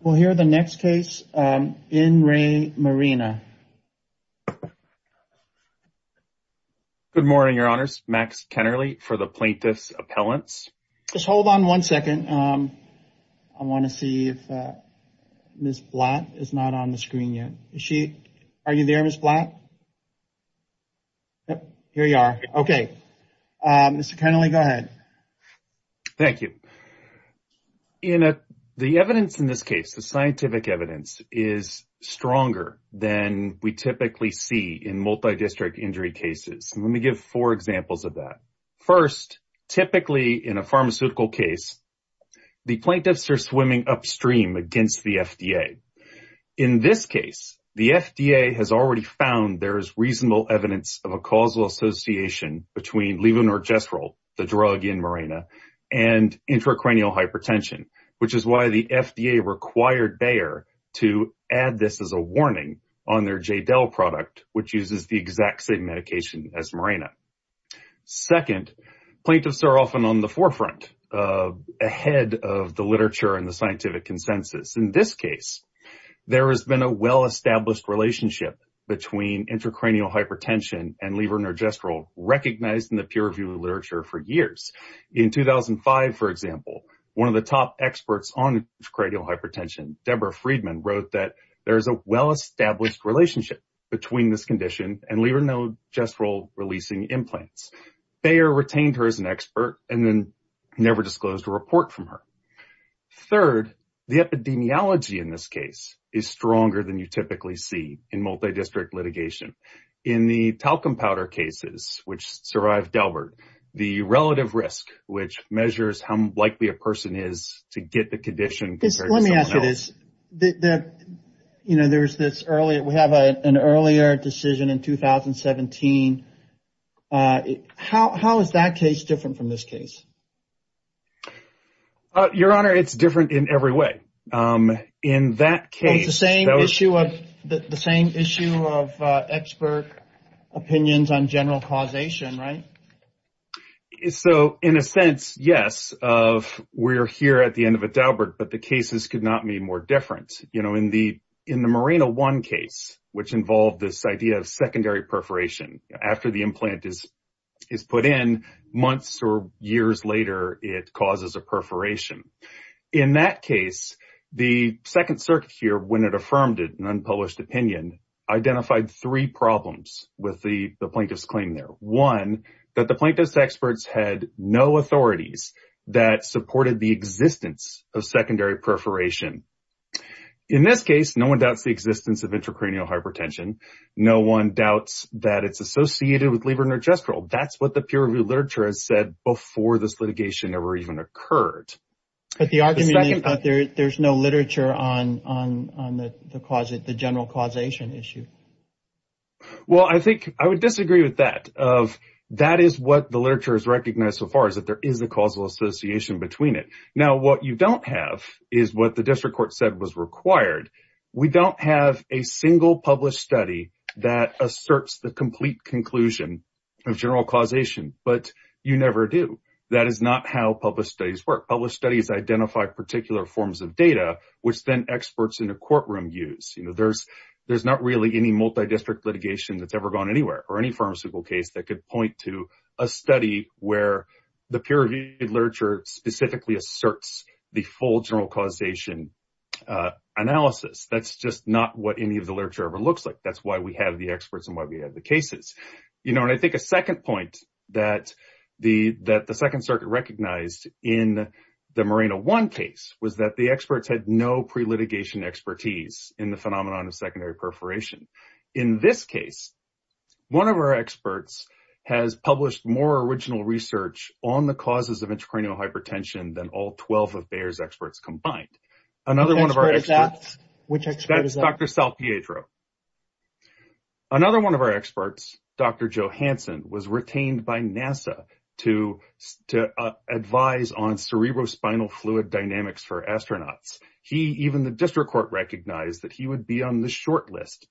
We'll hear the next case in re Mirena. Good morning your honors Max Kennerly for the plaintiff's appellants. Just hold on one second I want to see if Miss Blatt is not on the screen yet. Is she? Are you there Miss Blatt? Yep here you are. Okay Mr. Kennerly go ahead. Thank you. In a the evidence in this case the scientific evidence is stronger than we typically see in multi-district injury cases. Let me give four examples of that. First typically in a pharmaceutical case the plaintiffs are swimming upstream against the FDA. In this case the FDA has already found there is reasonable evidence of a causal association between Levonorgestrel the drug in Mirena and intracranial hypertension which is why the FDA required Bayer to add this as a warning on their JDEL product which uses the exact same medication as Mirena. Second plaintiffs are often on the forefront ahead of the literature and the scientific consensus. In this case there has been a well-established relationship between intracranial hypertension and Levonorgestrel recognized in the peer-reviewed literature for years. In 2005 for example one of the top experts on intracranial hypertension Deborah Friedman wrote that there is a well-established relationship between this condition and Levonorgestrel releasing implants. Bayer retained her as an expert and then never disclosed a report from her. Third the epidemiology in this case is stronger than you typically see in multi-district litigation. In the talcum powder cases which survived Delbert the relative risk which measures how likely a person is to get the condition. Let me ask you this, you know there's this earlier we have an earlier decision in 2017 how is that different from this case? Your honor it's different in every way. In that case the same issue of the same issue of expert opinions on general causation right? So in a sense yes of we're here at the end of a Delbert but the cases could not be more different you know in the in the Mirena one case which involved this idea of secondary perforation after the implant is is put in months or years later it causes a perforation. In that case the Second Circuit here when it affirmed it an unpublished opinion identified three problems with the the plaintiff's claim there. One that the plaintiff's experts had no authorities that supported the existence of secondary perforation. In this case no one doubts the existence of intracranial hypertension no one doubts that it's associated with levonorgestrel. That's what the peer-reviewed literature has said before this litigation ever even occurred. But the argument is that there's no literature on on the cause of the general causation issue. Well I think I would disagree with that of that is what the literature is recognized so far is that there is a causal association between it. Now what you don't have is what the district court said was required. We don't have a complete conclusion of general causation but you never do. That is not how published studies work. Published studies identify particular forms of data which then experts in a courtroom use. You know there's there's not really any multi-district litigation that's ever gone anywhere or any pharmaceutical case that could point to a study where the peer-reviewed literature specifically asserts the full general causation analysis. That's just not what any of the cases. You know and I think a second point that the that the Second Circuit recognized in the Moreno 1 case was that the experts had no pre-litigation expertise in the phenomenon of secondary perforation. In this case one of our experts has published more original research on the causes of intracranial hypertension than all 12 of Bayer's experts combined. Another one of our experts, Dr. Joe Hanson, was retained by NASA to advise on cerebrospinal fluid dynamics for astronauts. He even the district court recognized that he would be on the short list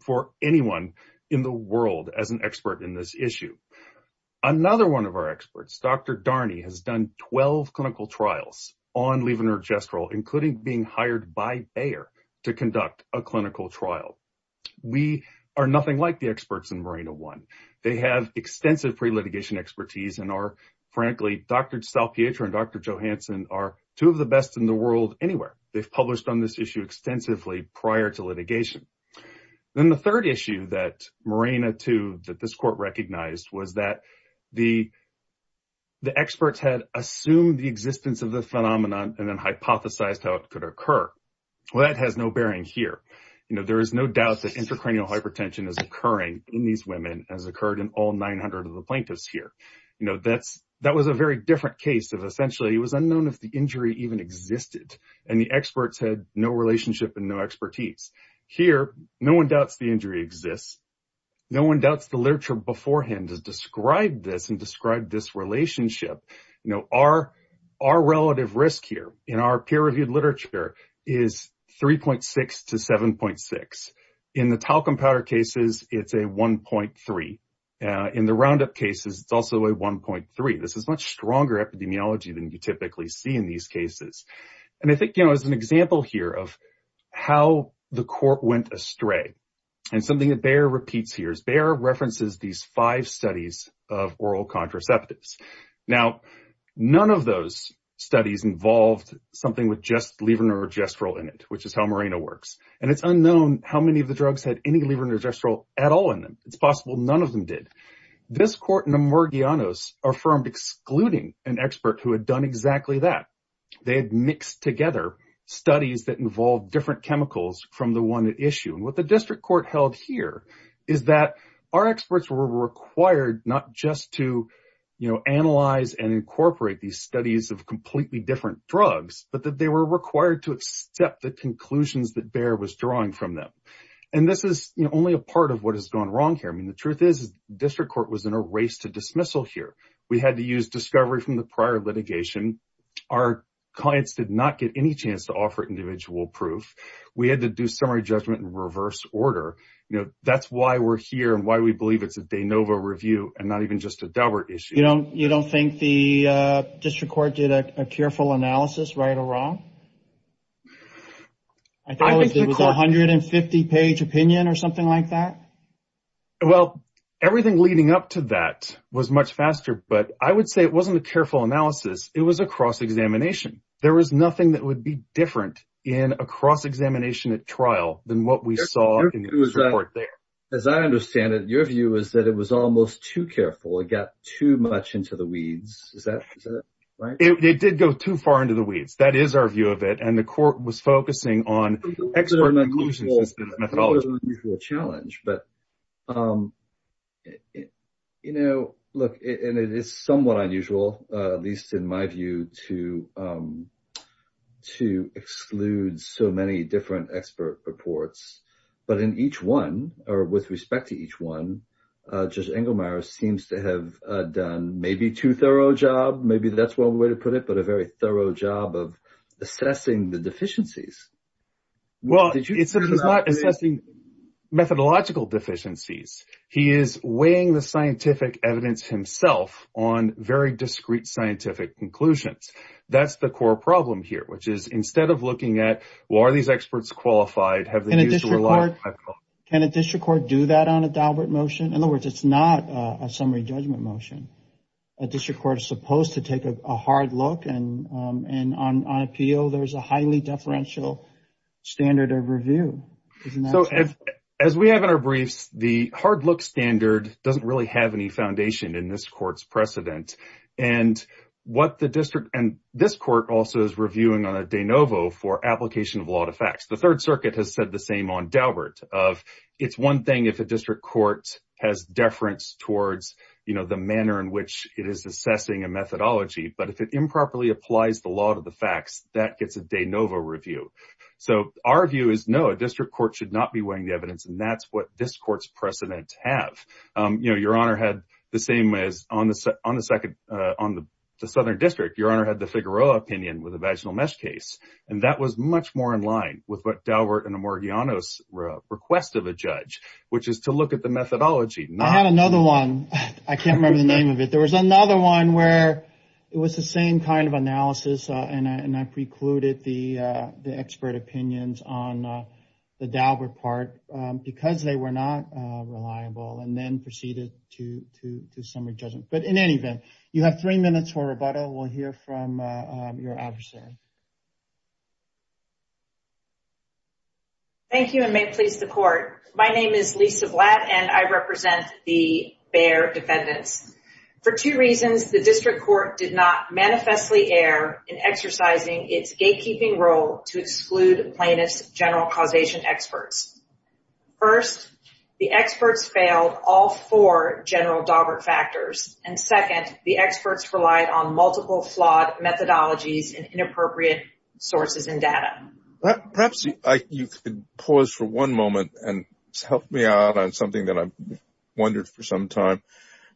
for anyone in the world as an expert in this issue. Another one of our experts, Dr. Darney, has done 12 clinical trials on levonorgestrel including being hired by Bayer to conduct a clinical trial. We are nothing like the experts in Moreno 1. They have extensive pre-litigation expertise and are frankly Dr. Salpietro and Dr. Joe Hanson are two of the best in the world anywhere. They've published on this issue extensively prior to litigation. Then the third issue that Moreno 2 that this court recognized was that the the side effect could occur. Well that has no bearing here. You know there is no doubt that intracranial hypertension is occurring in these women as occurred in all 900 of the plaintiffs here. You know that's that was a very different case of essentially it was unknown if the injury even existed and the experts had no relationship and no expertise. Here no one doubts the injury exists. No one doubts the literature beforehand has described this and described this literature is 3.6 to 7.6. In the talcum powder cases it's a 1.3. In the roundup cases it's also a 1.3. This is much stronger epidemiology than you typically see in these cases. And I think you know as an example here of how the court went astray and something that Bayer repeats here is Bayer references these five studies of oral contraceptives. Now none of those studies involved something with just levonorgestrel in it which is how Moreno works. And it's unknown how many of the drugs had any levonorgestrel at all in them. It's possible none of them did. This court in Emergianos affirmed excluding an expert who had done exactly that. They had mixed together studies that involved different chemicals from the one at issue. And what the district court held here is that our experts were required not just to you know analyze and incorporate these studies of completely different drugs but that they were required to accept the conclusions that Bayer was drawing from them. And this is only a part of what has gone wrong here. I mean the truth is district court was in a race to dismissal here. We had to use discovery from the prior litigation. Our clients did not get any chance to offer individual proof. We had to do summary judgment in reverse order. You know that's why we're here and why we believe it's a de novo review and not even just a Daubert issue. You know you don't think the district court did a careful analysis right or wrong. I think it was 150 page opinion or something like that. Well everything leading up to that was much faster. But I would say it wasn't a careful analysis. It was a cross examination. There was nothing that would be different in a cross examination at trial than what we saw in court there. As I understand it your view is that it was almost too careful. It got too much into the weeds. Is that right? It did go too far into the weeds. That is our view of it and the court was focusing on expert methodologies. It was an unusual challenge but you know look and it is somewhat unusual at least in my view to to exclude so many different expert reports but in each one or with respect to each one just Engelmeyer seems to have done maybe too thorough job maybe that's one way to put it but a very thorough job of assessing the deficiencies. Well it's not assessing methodological deficiencies. He is weighing the scientific evidence himself on very discrete scientific conclusions. That's the core problem here which is instead of looking at well are these experts qualified? Can a district court do that on a Daubert motion? In other words it's not a summary judgment motion. A district court is supposed to take a hard look and on appeal there's a highly deferential standard of review. So as we have in our briefs the hard look standard doesn't really have any foundation in this court's precedent and what the district and this court also is reviewing on a de novo for application of law to facts. The Third Circuit has said the same on Daubert of it's one thing if a district court has deference towards you know the manner in which it is assessing a methodology but if it improperly applies the law to the facts that gets a de novo review. So our view is no a district court should not be weighing the evidence and that's what this court's precedent have. You know Your Honor had the same as on the second on the Southern District. Your Honor had the Figueroa opinion with a vaginal mesh case and that was much more in line with what Daubert and Amorghianos request of a judge which is to look at the methodology. I had another one I can't remember the name of it there was another one where it was the same kind of analysis and I precluded the expert opinions on the Daubert part because they were not reliable and then proceeded to summary judgment. But in any event you have three minutes for rebuttal we'll hear from your adversary. Thank you and may it please the court. My name is Lisa Blatt and I represent the Bayer defendants. For two reasons the district court did not manifestly err in exercising its gatekeeping role to exclude plaintiffs general causation experts. First the experts failed all four general Daubert factors and second the experts relied on multiple flawed methodologies and inappropriate sources and data. Perhaps you could pause for one moment and help me out on something that I've wondered for some time.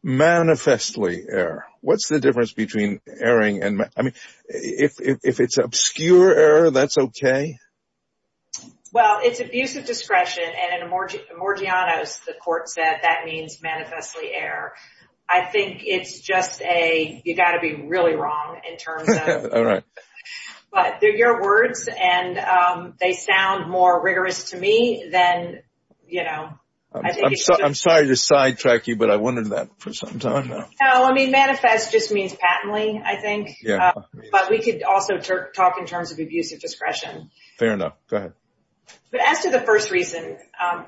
Manifestly error what's the difference between erring and I mean if it's obscure error that's okay. Well it's abuse of discretion and in Amorghianos the court said that means manifestly error. I think it's just a you got to be really wrong in terms of all right but they're your words and they sound more rigorous to me then you know. I'm sorry to sidetrack you but I wondered that for some time. No I mean manifest just means patently I think but we could also talk in terms of abuse of discretion. Fair enough go ahead. But as to the first reason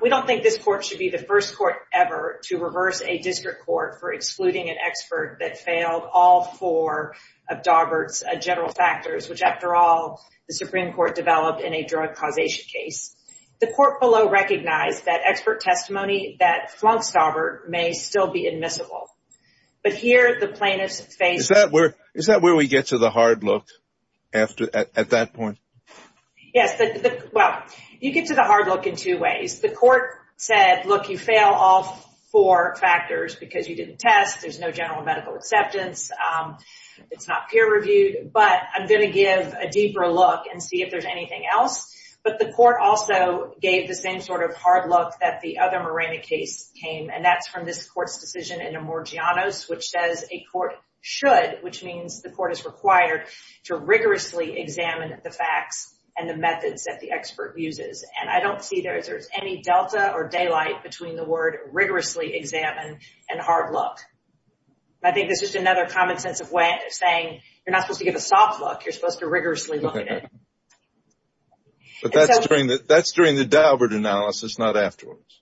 we don't think this court should be the first court ever to reverse a district court for excluding an expert that failed all four of Daubert's general factors which after all the Supreme Court developed in a drug causation case. The court below recognized that expert testimony that flunks Daubert may still be admissible but here the plaintiffs face. Is that where we get to the hard look after at that point? Yes well you get to the hard look in two ways. The court said look you fail all four factors because you didn't test there's no general medical acceptance it's not peer-reviewed but I'm gonna give a deeper look and see if there's anything else but the court also gave the same sort of hard look that the other Morena case came and that's from this court's decision in a Morgianos which says a court should which means the court is required to rigorously examine the facts and the methods that the expert uses and I don't see there's there's any Delta or daylight between the word rigorously examined and hard look. I think there's just another common sense of way of saying you're not supposed to give a soft look you're supposed to rigorously look at it. But that's during the that's during the Daubert analysis not afterwards.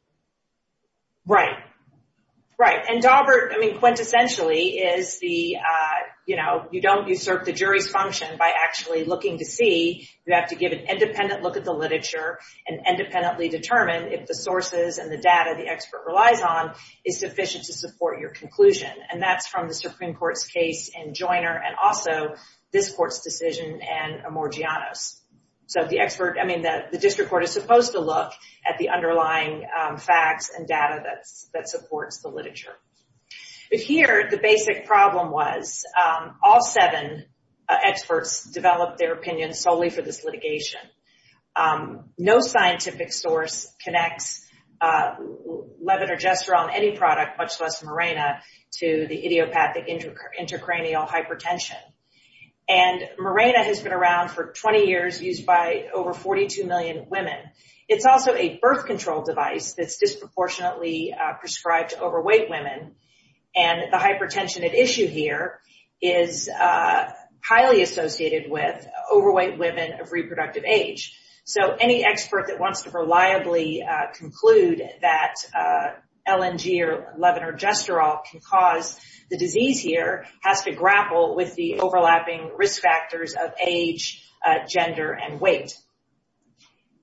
Right right and Daubert I mean quintessentially is the you know you don't usurp the jury's function by actually looking to see you have to give an independent look at the literature and independently determine if the sources and the data the expert relies on is sufficient to support your conclusion and that's from the Supreme Court's case and Joiner and also this court's decision and a Morgianos. So the expert I mean that the district court is the underlying facts and data that's that supports the literature. But here the basic problem was all seven experts developed their opinion solely for this litigation. No scientific source connects Levin or Gestural on any product much less Mirena to the idiopathic intracranial hypertension. And Mirena has been around for 20 years used by over 42 million women. It's also a birth control device that's disproportionately prescribed to overweight women and the hypertension at issue here is highly associated with overweight women of reproductive age. So any expert that wants to reliably conclude that LNG or Levin or Gestural can cause the disease here has to grapple with the overlapping risk factors of age gender and weight.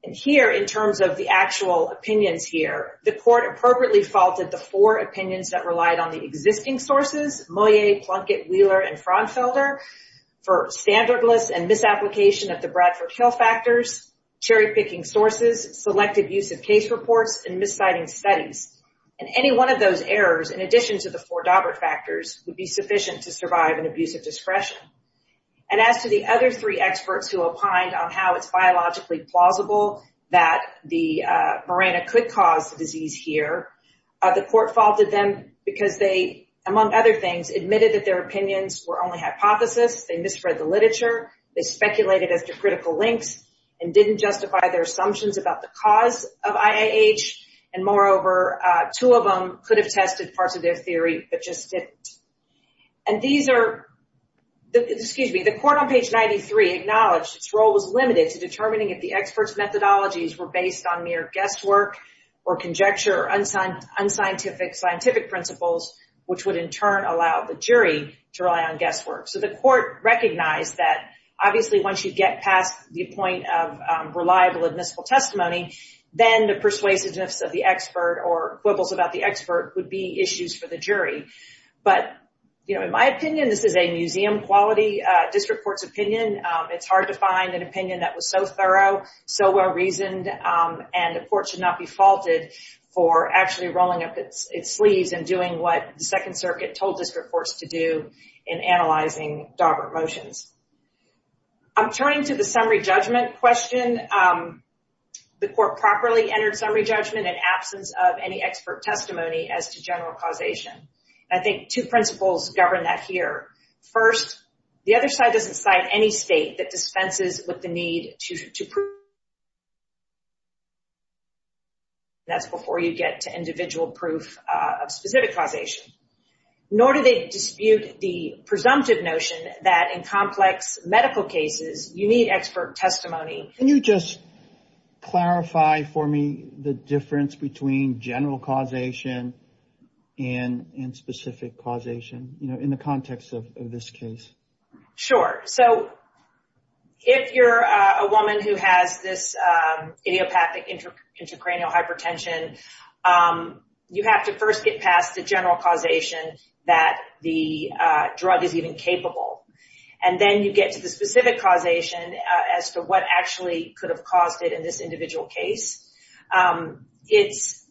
And here in terms of the actual opinions here the court appropriately faulted the four opinions that relied on the existing sources Moyet, Plunkett, Wheeler and Fraunfelder for standardless and misapplication of the Bradford Hill factors, cherry-picking sources, selective use of case reports and misciting studies. And any one of those errors in addition to the four Dobbert factors would be sufficient to survive an abuse of discretion. And as to the other three experts who opined on how it's biologically plausible that the Mirena could cause the disease here, the court faulted them because they among other things admitted that their opinions were only hypothesis, they misread the literature, they speculated as to critical links and didn't justify their assumptions about the cause of IAH and moreover two of them could have tested parts of their theory but just didn't. And these are the excuse me the court on page 93 acknowledged its role was limited to determining if the experts methodologies were based on mere guesswork or conjecture unsigned unscientific scientific principles which would in turn allow the jury to rely on guesswork. So the court recognized that obviously once you get past the point of reliable admissible testimony then the persuasiveness of the expert or quibbles about the expert would be issues for the jury. But you know in my opinion this is a museum quality district courts opinion. It's hard to find an opinion that was so thorough so well reasoned and the court should not be faulted for actually rolling up its sleeves and doing what the Second Circuit told district courts to do in analyzing Dawbert motions. I'm turning to the summary judgment question. The court properly entered summary judgment in absence of any expert testimony as to general causation. I think two principles govern that here. First the other side doesn't cite any state that dispenses with the need to prove that's before you get to individual proof of specific causation. Nor do they dispute the presumptive notion that in complex medical cases you need expert testimony. Can you just clarify for me the in the context of this case. Sure so if you're a woman who has this idiopathic intracranial hypertension you have to first get past the general causation that the drug is even capable. And then you get to the specific causation as to what actually could have caused it in this individual case. It's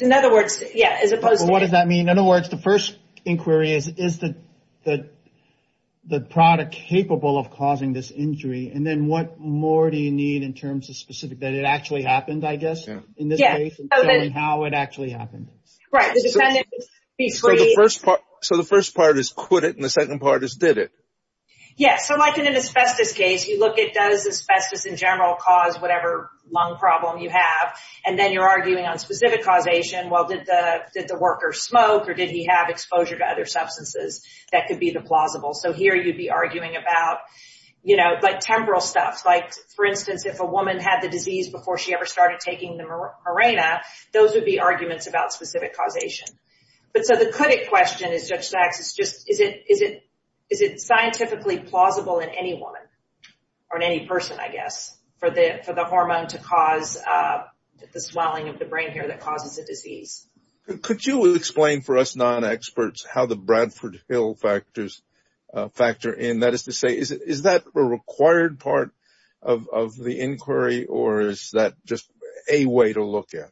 in other words the first inquiry is that the product capable of causing this injury and then what more do you need in terms of specific that it actually happened I guess in this case. So the first part is could it and the second part is did it. Yes so like in an asbestos case you look at does asbestos in general cause whatever lung problem you have and then you're arguing on did the worker smoke or did he have exposure to other substances that could be the plausible. So here you'd be arguing about you know like temporal stuff like for instance if a woman had the disease before she ever started taking the Mirena those would be arguments about specific causation. But so the clinic question is just is it is it is it scientifically plausible in any woman or in any person I guess for the for the hormone to cause the swelling of the brain hair that causes a disease. Could you explain for us non-experts how the Bradford Hill factors factor in that is to say is that a required part of the inquiry or is that just a way to look at.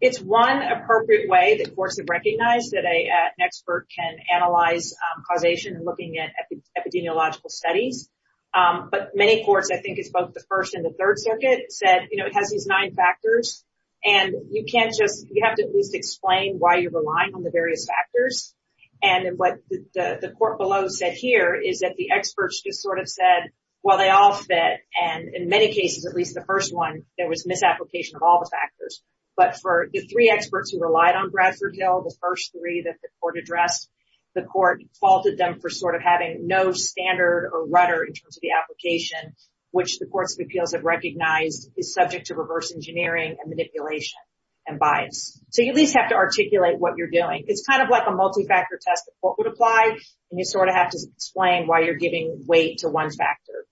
It's one appropriate way that courts have recognized that an expert can analyze causation and looking at epidemiological studies. But many courts I think it's the first and the third circuit said you know it has these nine factors and you can't just you have to at least explain why you're relying on the various factors and what the court below said here is that the experts just sort of said well they all fit and in many cases at least the first one there was misapplication of all the factors. But for the three experts who relied on Bradford Hill the first three that the court addressed the court faulted them for sort of having no standard or rudder in terms of the application which the courts of appeals have recognized is subject to reverse engineering and manipulation and bias. So you at least have to articulate what you're doing. It's kind of like a multi-factor test the court would apply and you sort of have to explain why you're giving weight to one factor.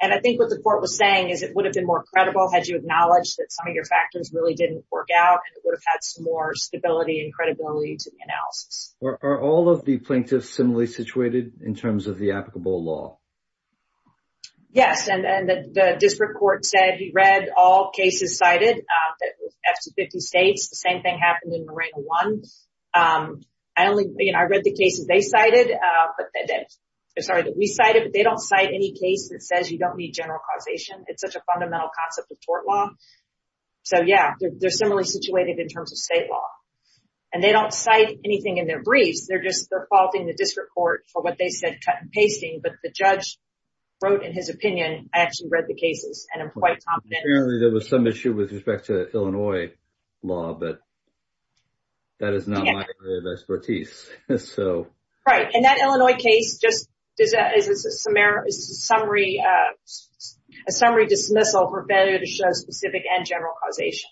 And I think what the court was saying is it would have been more credible had you acknowledged that some of your factors really didn't work out and it would have had some more stability and credibility to the analysis. Are all of the plaintiffs similarly situated in terms of the applicable law? Yes and the district court said he read all cases cited that with 50 states the same thing happened in Marina One. I only you know I read the cases they cited but sorry that we cited but they don't cite any case that says you don't need general causation. It's such a fundamental concept of tort law. So yeah they're similarly situated in terms of state law. And they don't cite anything in their briefs they're just they're court for what they said cut and pasting but the judge wrote in his opinion I actually read the cases and I'm quite confident. Apparently there was some issue with respect to Illinois law but that is not my area of expertise. Right and that Illinois case just is a summary dismissal for failure to show specific and general causation.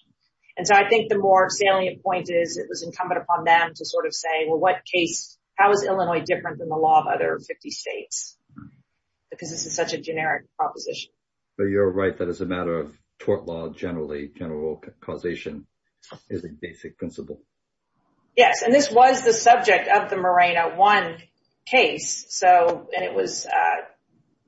And so I think the more salient point is it was incumbent upon them to sort of say well what case how is different than the law of other 50 states? Because this is such a generic proposition. But you're right that is a matter of tort law generally general causation is a basic principle. Yes and this was the subject of the Marina One case so and it was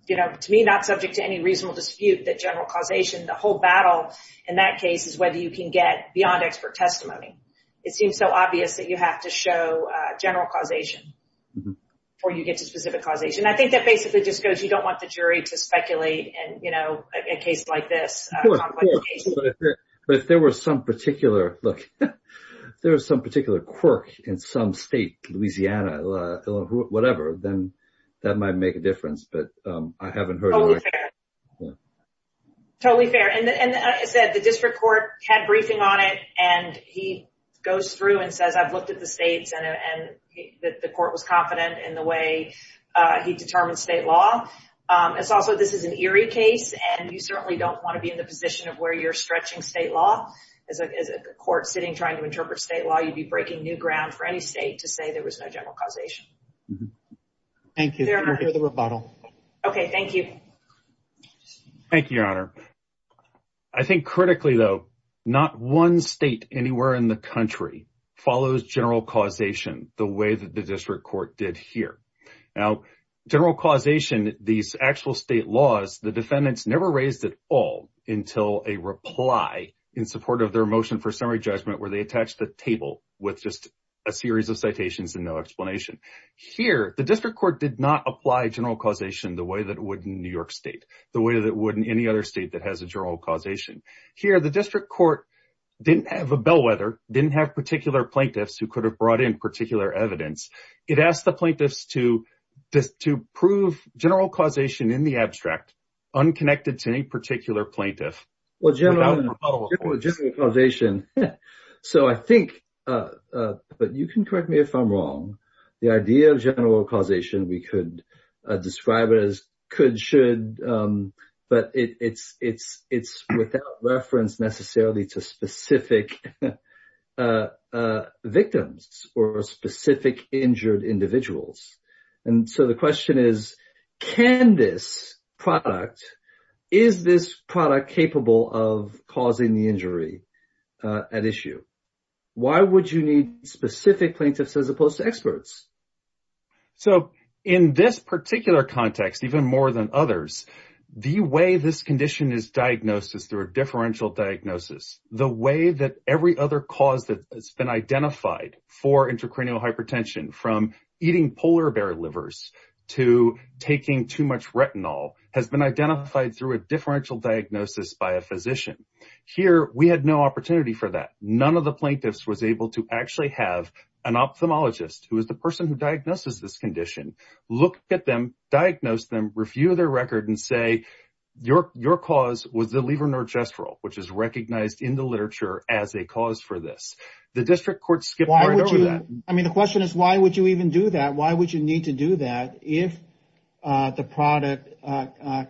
you know to me not subject to any reasonable dispute that general causation the whole battle in that case is whether you can get beyond expert testimony. It seems so obvious that you have to show general causation or you get to specific causation. I think that basically just goes you don't want the jury to speculate and you know a case like this. But if there was some particular look there was some particular quirk in some state Louisiana whatever then that might make a difference but I haven't heard. Totally fair and I said the district court had briefing on it and he goes through and says I've looked at the states and that the court was confident in the way he determined state law. It's also this is an eerie case and you certainly don't want to be in the position of where you're stretching state law. As a court sitting trying to interpret state law you'd be breaking new ground for any state to say there was no general causation. Thank you for the rebuttal. Okay thank you. Thank you your honor. I think critically though not one state anywhere in the country follows general causation the way that the district court did here. Now general causation these actual state laws the defendants never raised at all until a reply in support of their motion for summary judgment where they attach the table with just a series of citations and no explanation. Here the district court did not apply general causation the way that would in New York State the way that would in any other state that has a general causation. Here the district court didn't have a bellwether didn't have particular plaintiffs who could have brought in particular evidence. It asked the plaintiffs to prove general causation in the abstract unconnected to any particular plaintiff. Well general causation so I think but you can correct me if I'm wrong the idea of general causation we could describe it as could should but it's it's it's without reference necessarily to specific victims or specific injured individuals and so the question is can this product is this product capable of causing the injury at issue? Why would you need specific plaintiffs as opposed to experts? So in this particular context even more than others the way this condition is diagnosed is through a differential diagnosis. The way that every other cause that has been identified for intracranial hypertension from eating polar bear livers to taking too much retinol has been identified through a differential diagnosis by a physician. Here we had no opportunity for that none of the plaintiffs was able to actually have an ophthalmologist who is the person who diagnoses this condition look at them diagnose them review their record and say your your cause was the levonorgestrel which is recognized in the literature as a cause for this. The district court skipped over that. I mean the question is why would you even do that why would you need to do that if the product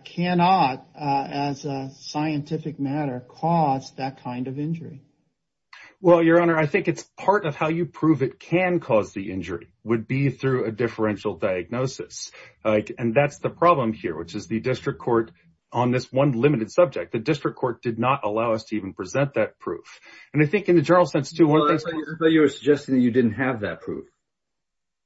cannot as a scientific matter cause that kind of injury? Well your honor I think it's part of how you prove it can cause the injury would be through a differential diagnosis and that's the problem here which is the district court on this one limited subject the district court did not allow us to even present that proof and I think in the general sense to what you're suggesting you didn't have that proof.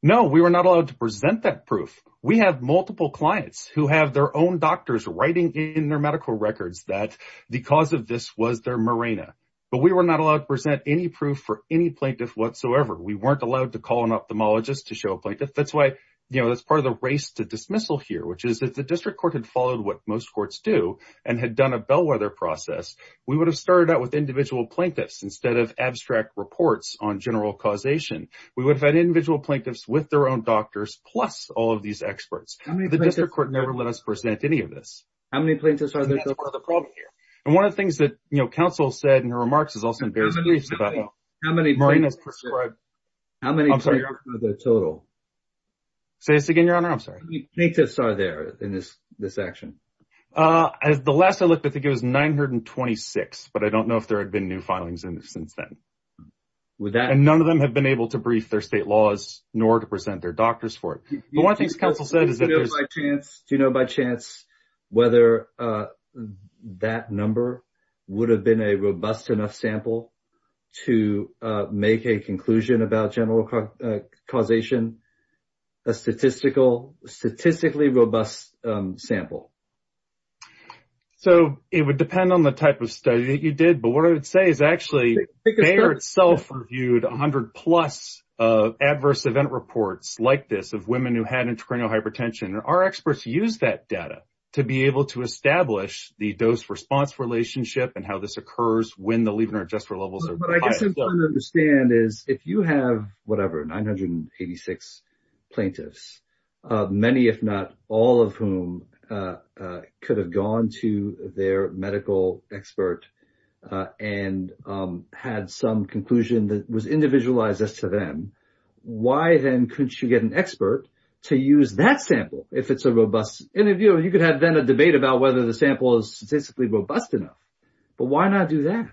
No we were not allowed to present that proof we have multiple clients who have their own doctors writing in their medical records that the cause of this was their Mirena but we were not allowed to present any proof for any plaintiff whatsoever we weren't allowed to call an ophthalmologist to show a plaintiff that's why you know that's part of the race to dismissal here which is that the district court had followed what most courts do and had done a bellwether process we would have started out with individual plaintiffs instead of abstract reports on general causation we would have had individual plaintiffs with their own doctors plus all of these experts the district court never let us present any of this. How many plaintiffs are there? That's part of the problem here. And one of the things that you know counsel said in her remarks is also embarrassing. How many plaintiffs are there in this this action? As the last I looked I think it was 926 but I don't know if there had been new filings in it since then. And none of them have been able to brief their state laws nor to present their doctors for it. One thing counsel said is that Do you know by chance whether that number would have been a robust enough sample to make a conclusion about general causation? A statistically robust sample? So it would depend on the type of study that you did but what I would say is actually Bayer itself reviewed a hundred plus adverse event reports like this of women who had intracranial hypertension. Our experts use that data to be able to establish the dose response relationship and how this occurs when the levonorgestrel levels are high. What I guess I'm trying to understand is if you have whatever 986 plaintiffs many if not all of whom could have gone to their medical expert and had some then couldn't you get an expert to use that sample if it's a robust interview? You could have then a debate about whether the sample is statistically robust enough but why not do that?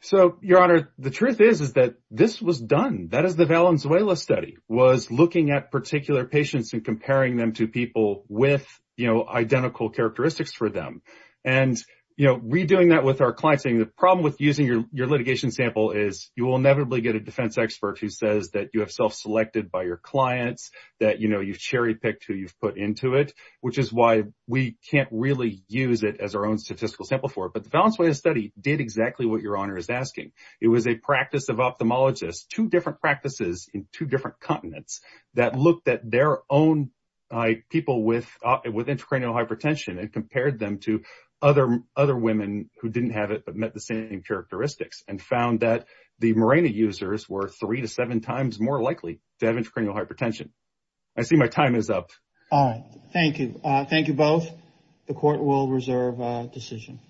So your honor the truth is is that this was done that is the Valenzuela study was looking at particular patients and comparing them to people with you know identical characteristics for them and you know redoing that with our client saying the problem with using your your litigation sample is you will inevitably get a defense expert who says that you have self-selected by your clients that you know you've cherry-picked who you've put into it which is why we can't really use it as our own statistical sample for but the Valenzuela study did exactly what your honor is asking. It was a practice of ophthalmologists two different practices in two different continents that looked at their own people with intracranial hypertension and compared them to other other women who didn't have it but met the same characteristics and found that the Mirena users were three to seven times more likely to have intracranial hypertension. I see my time is up. All right thank you thank you both the court will reserve decision.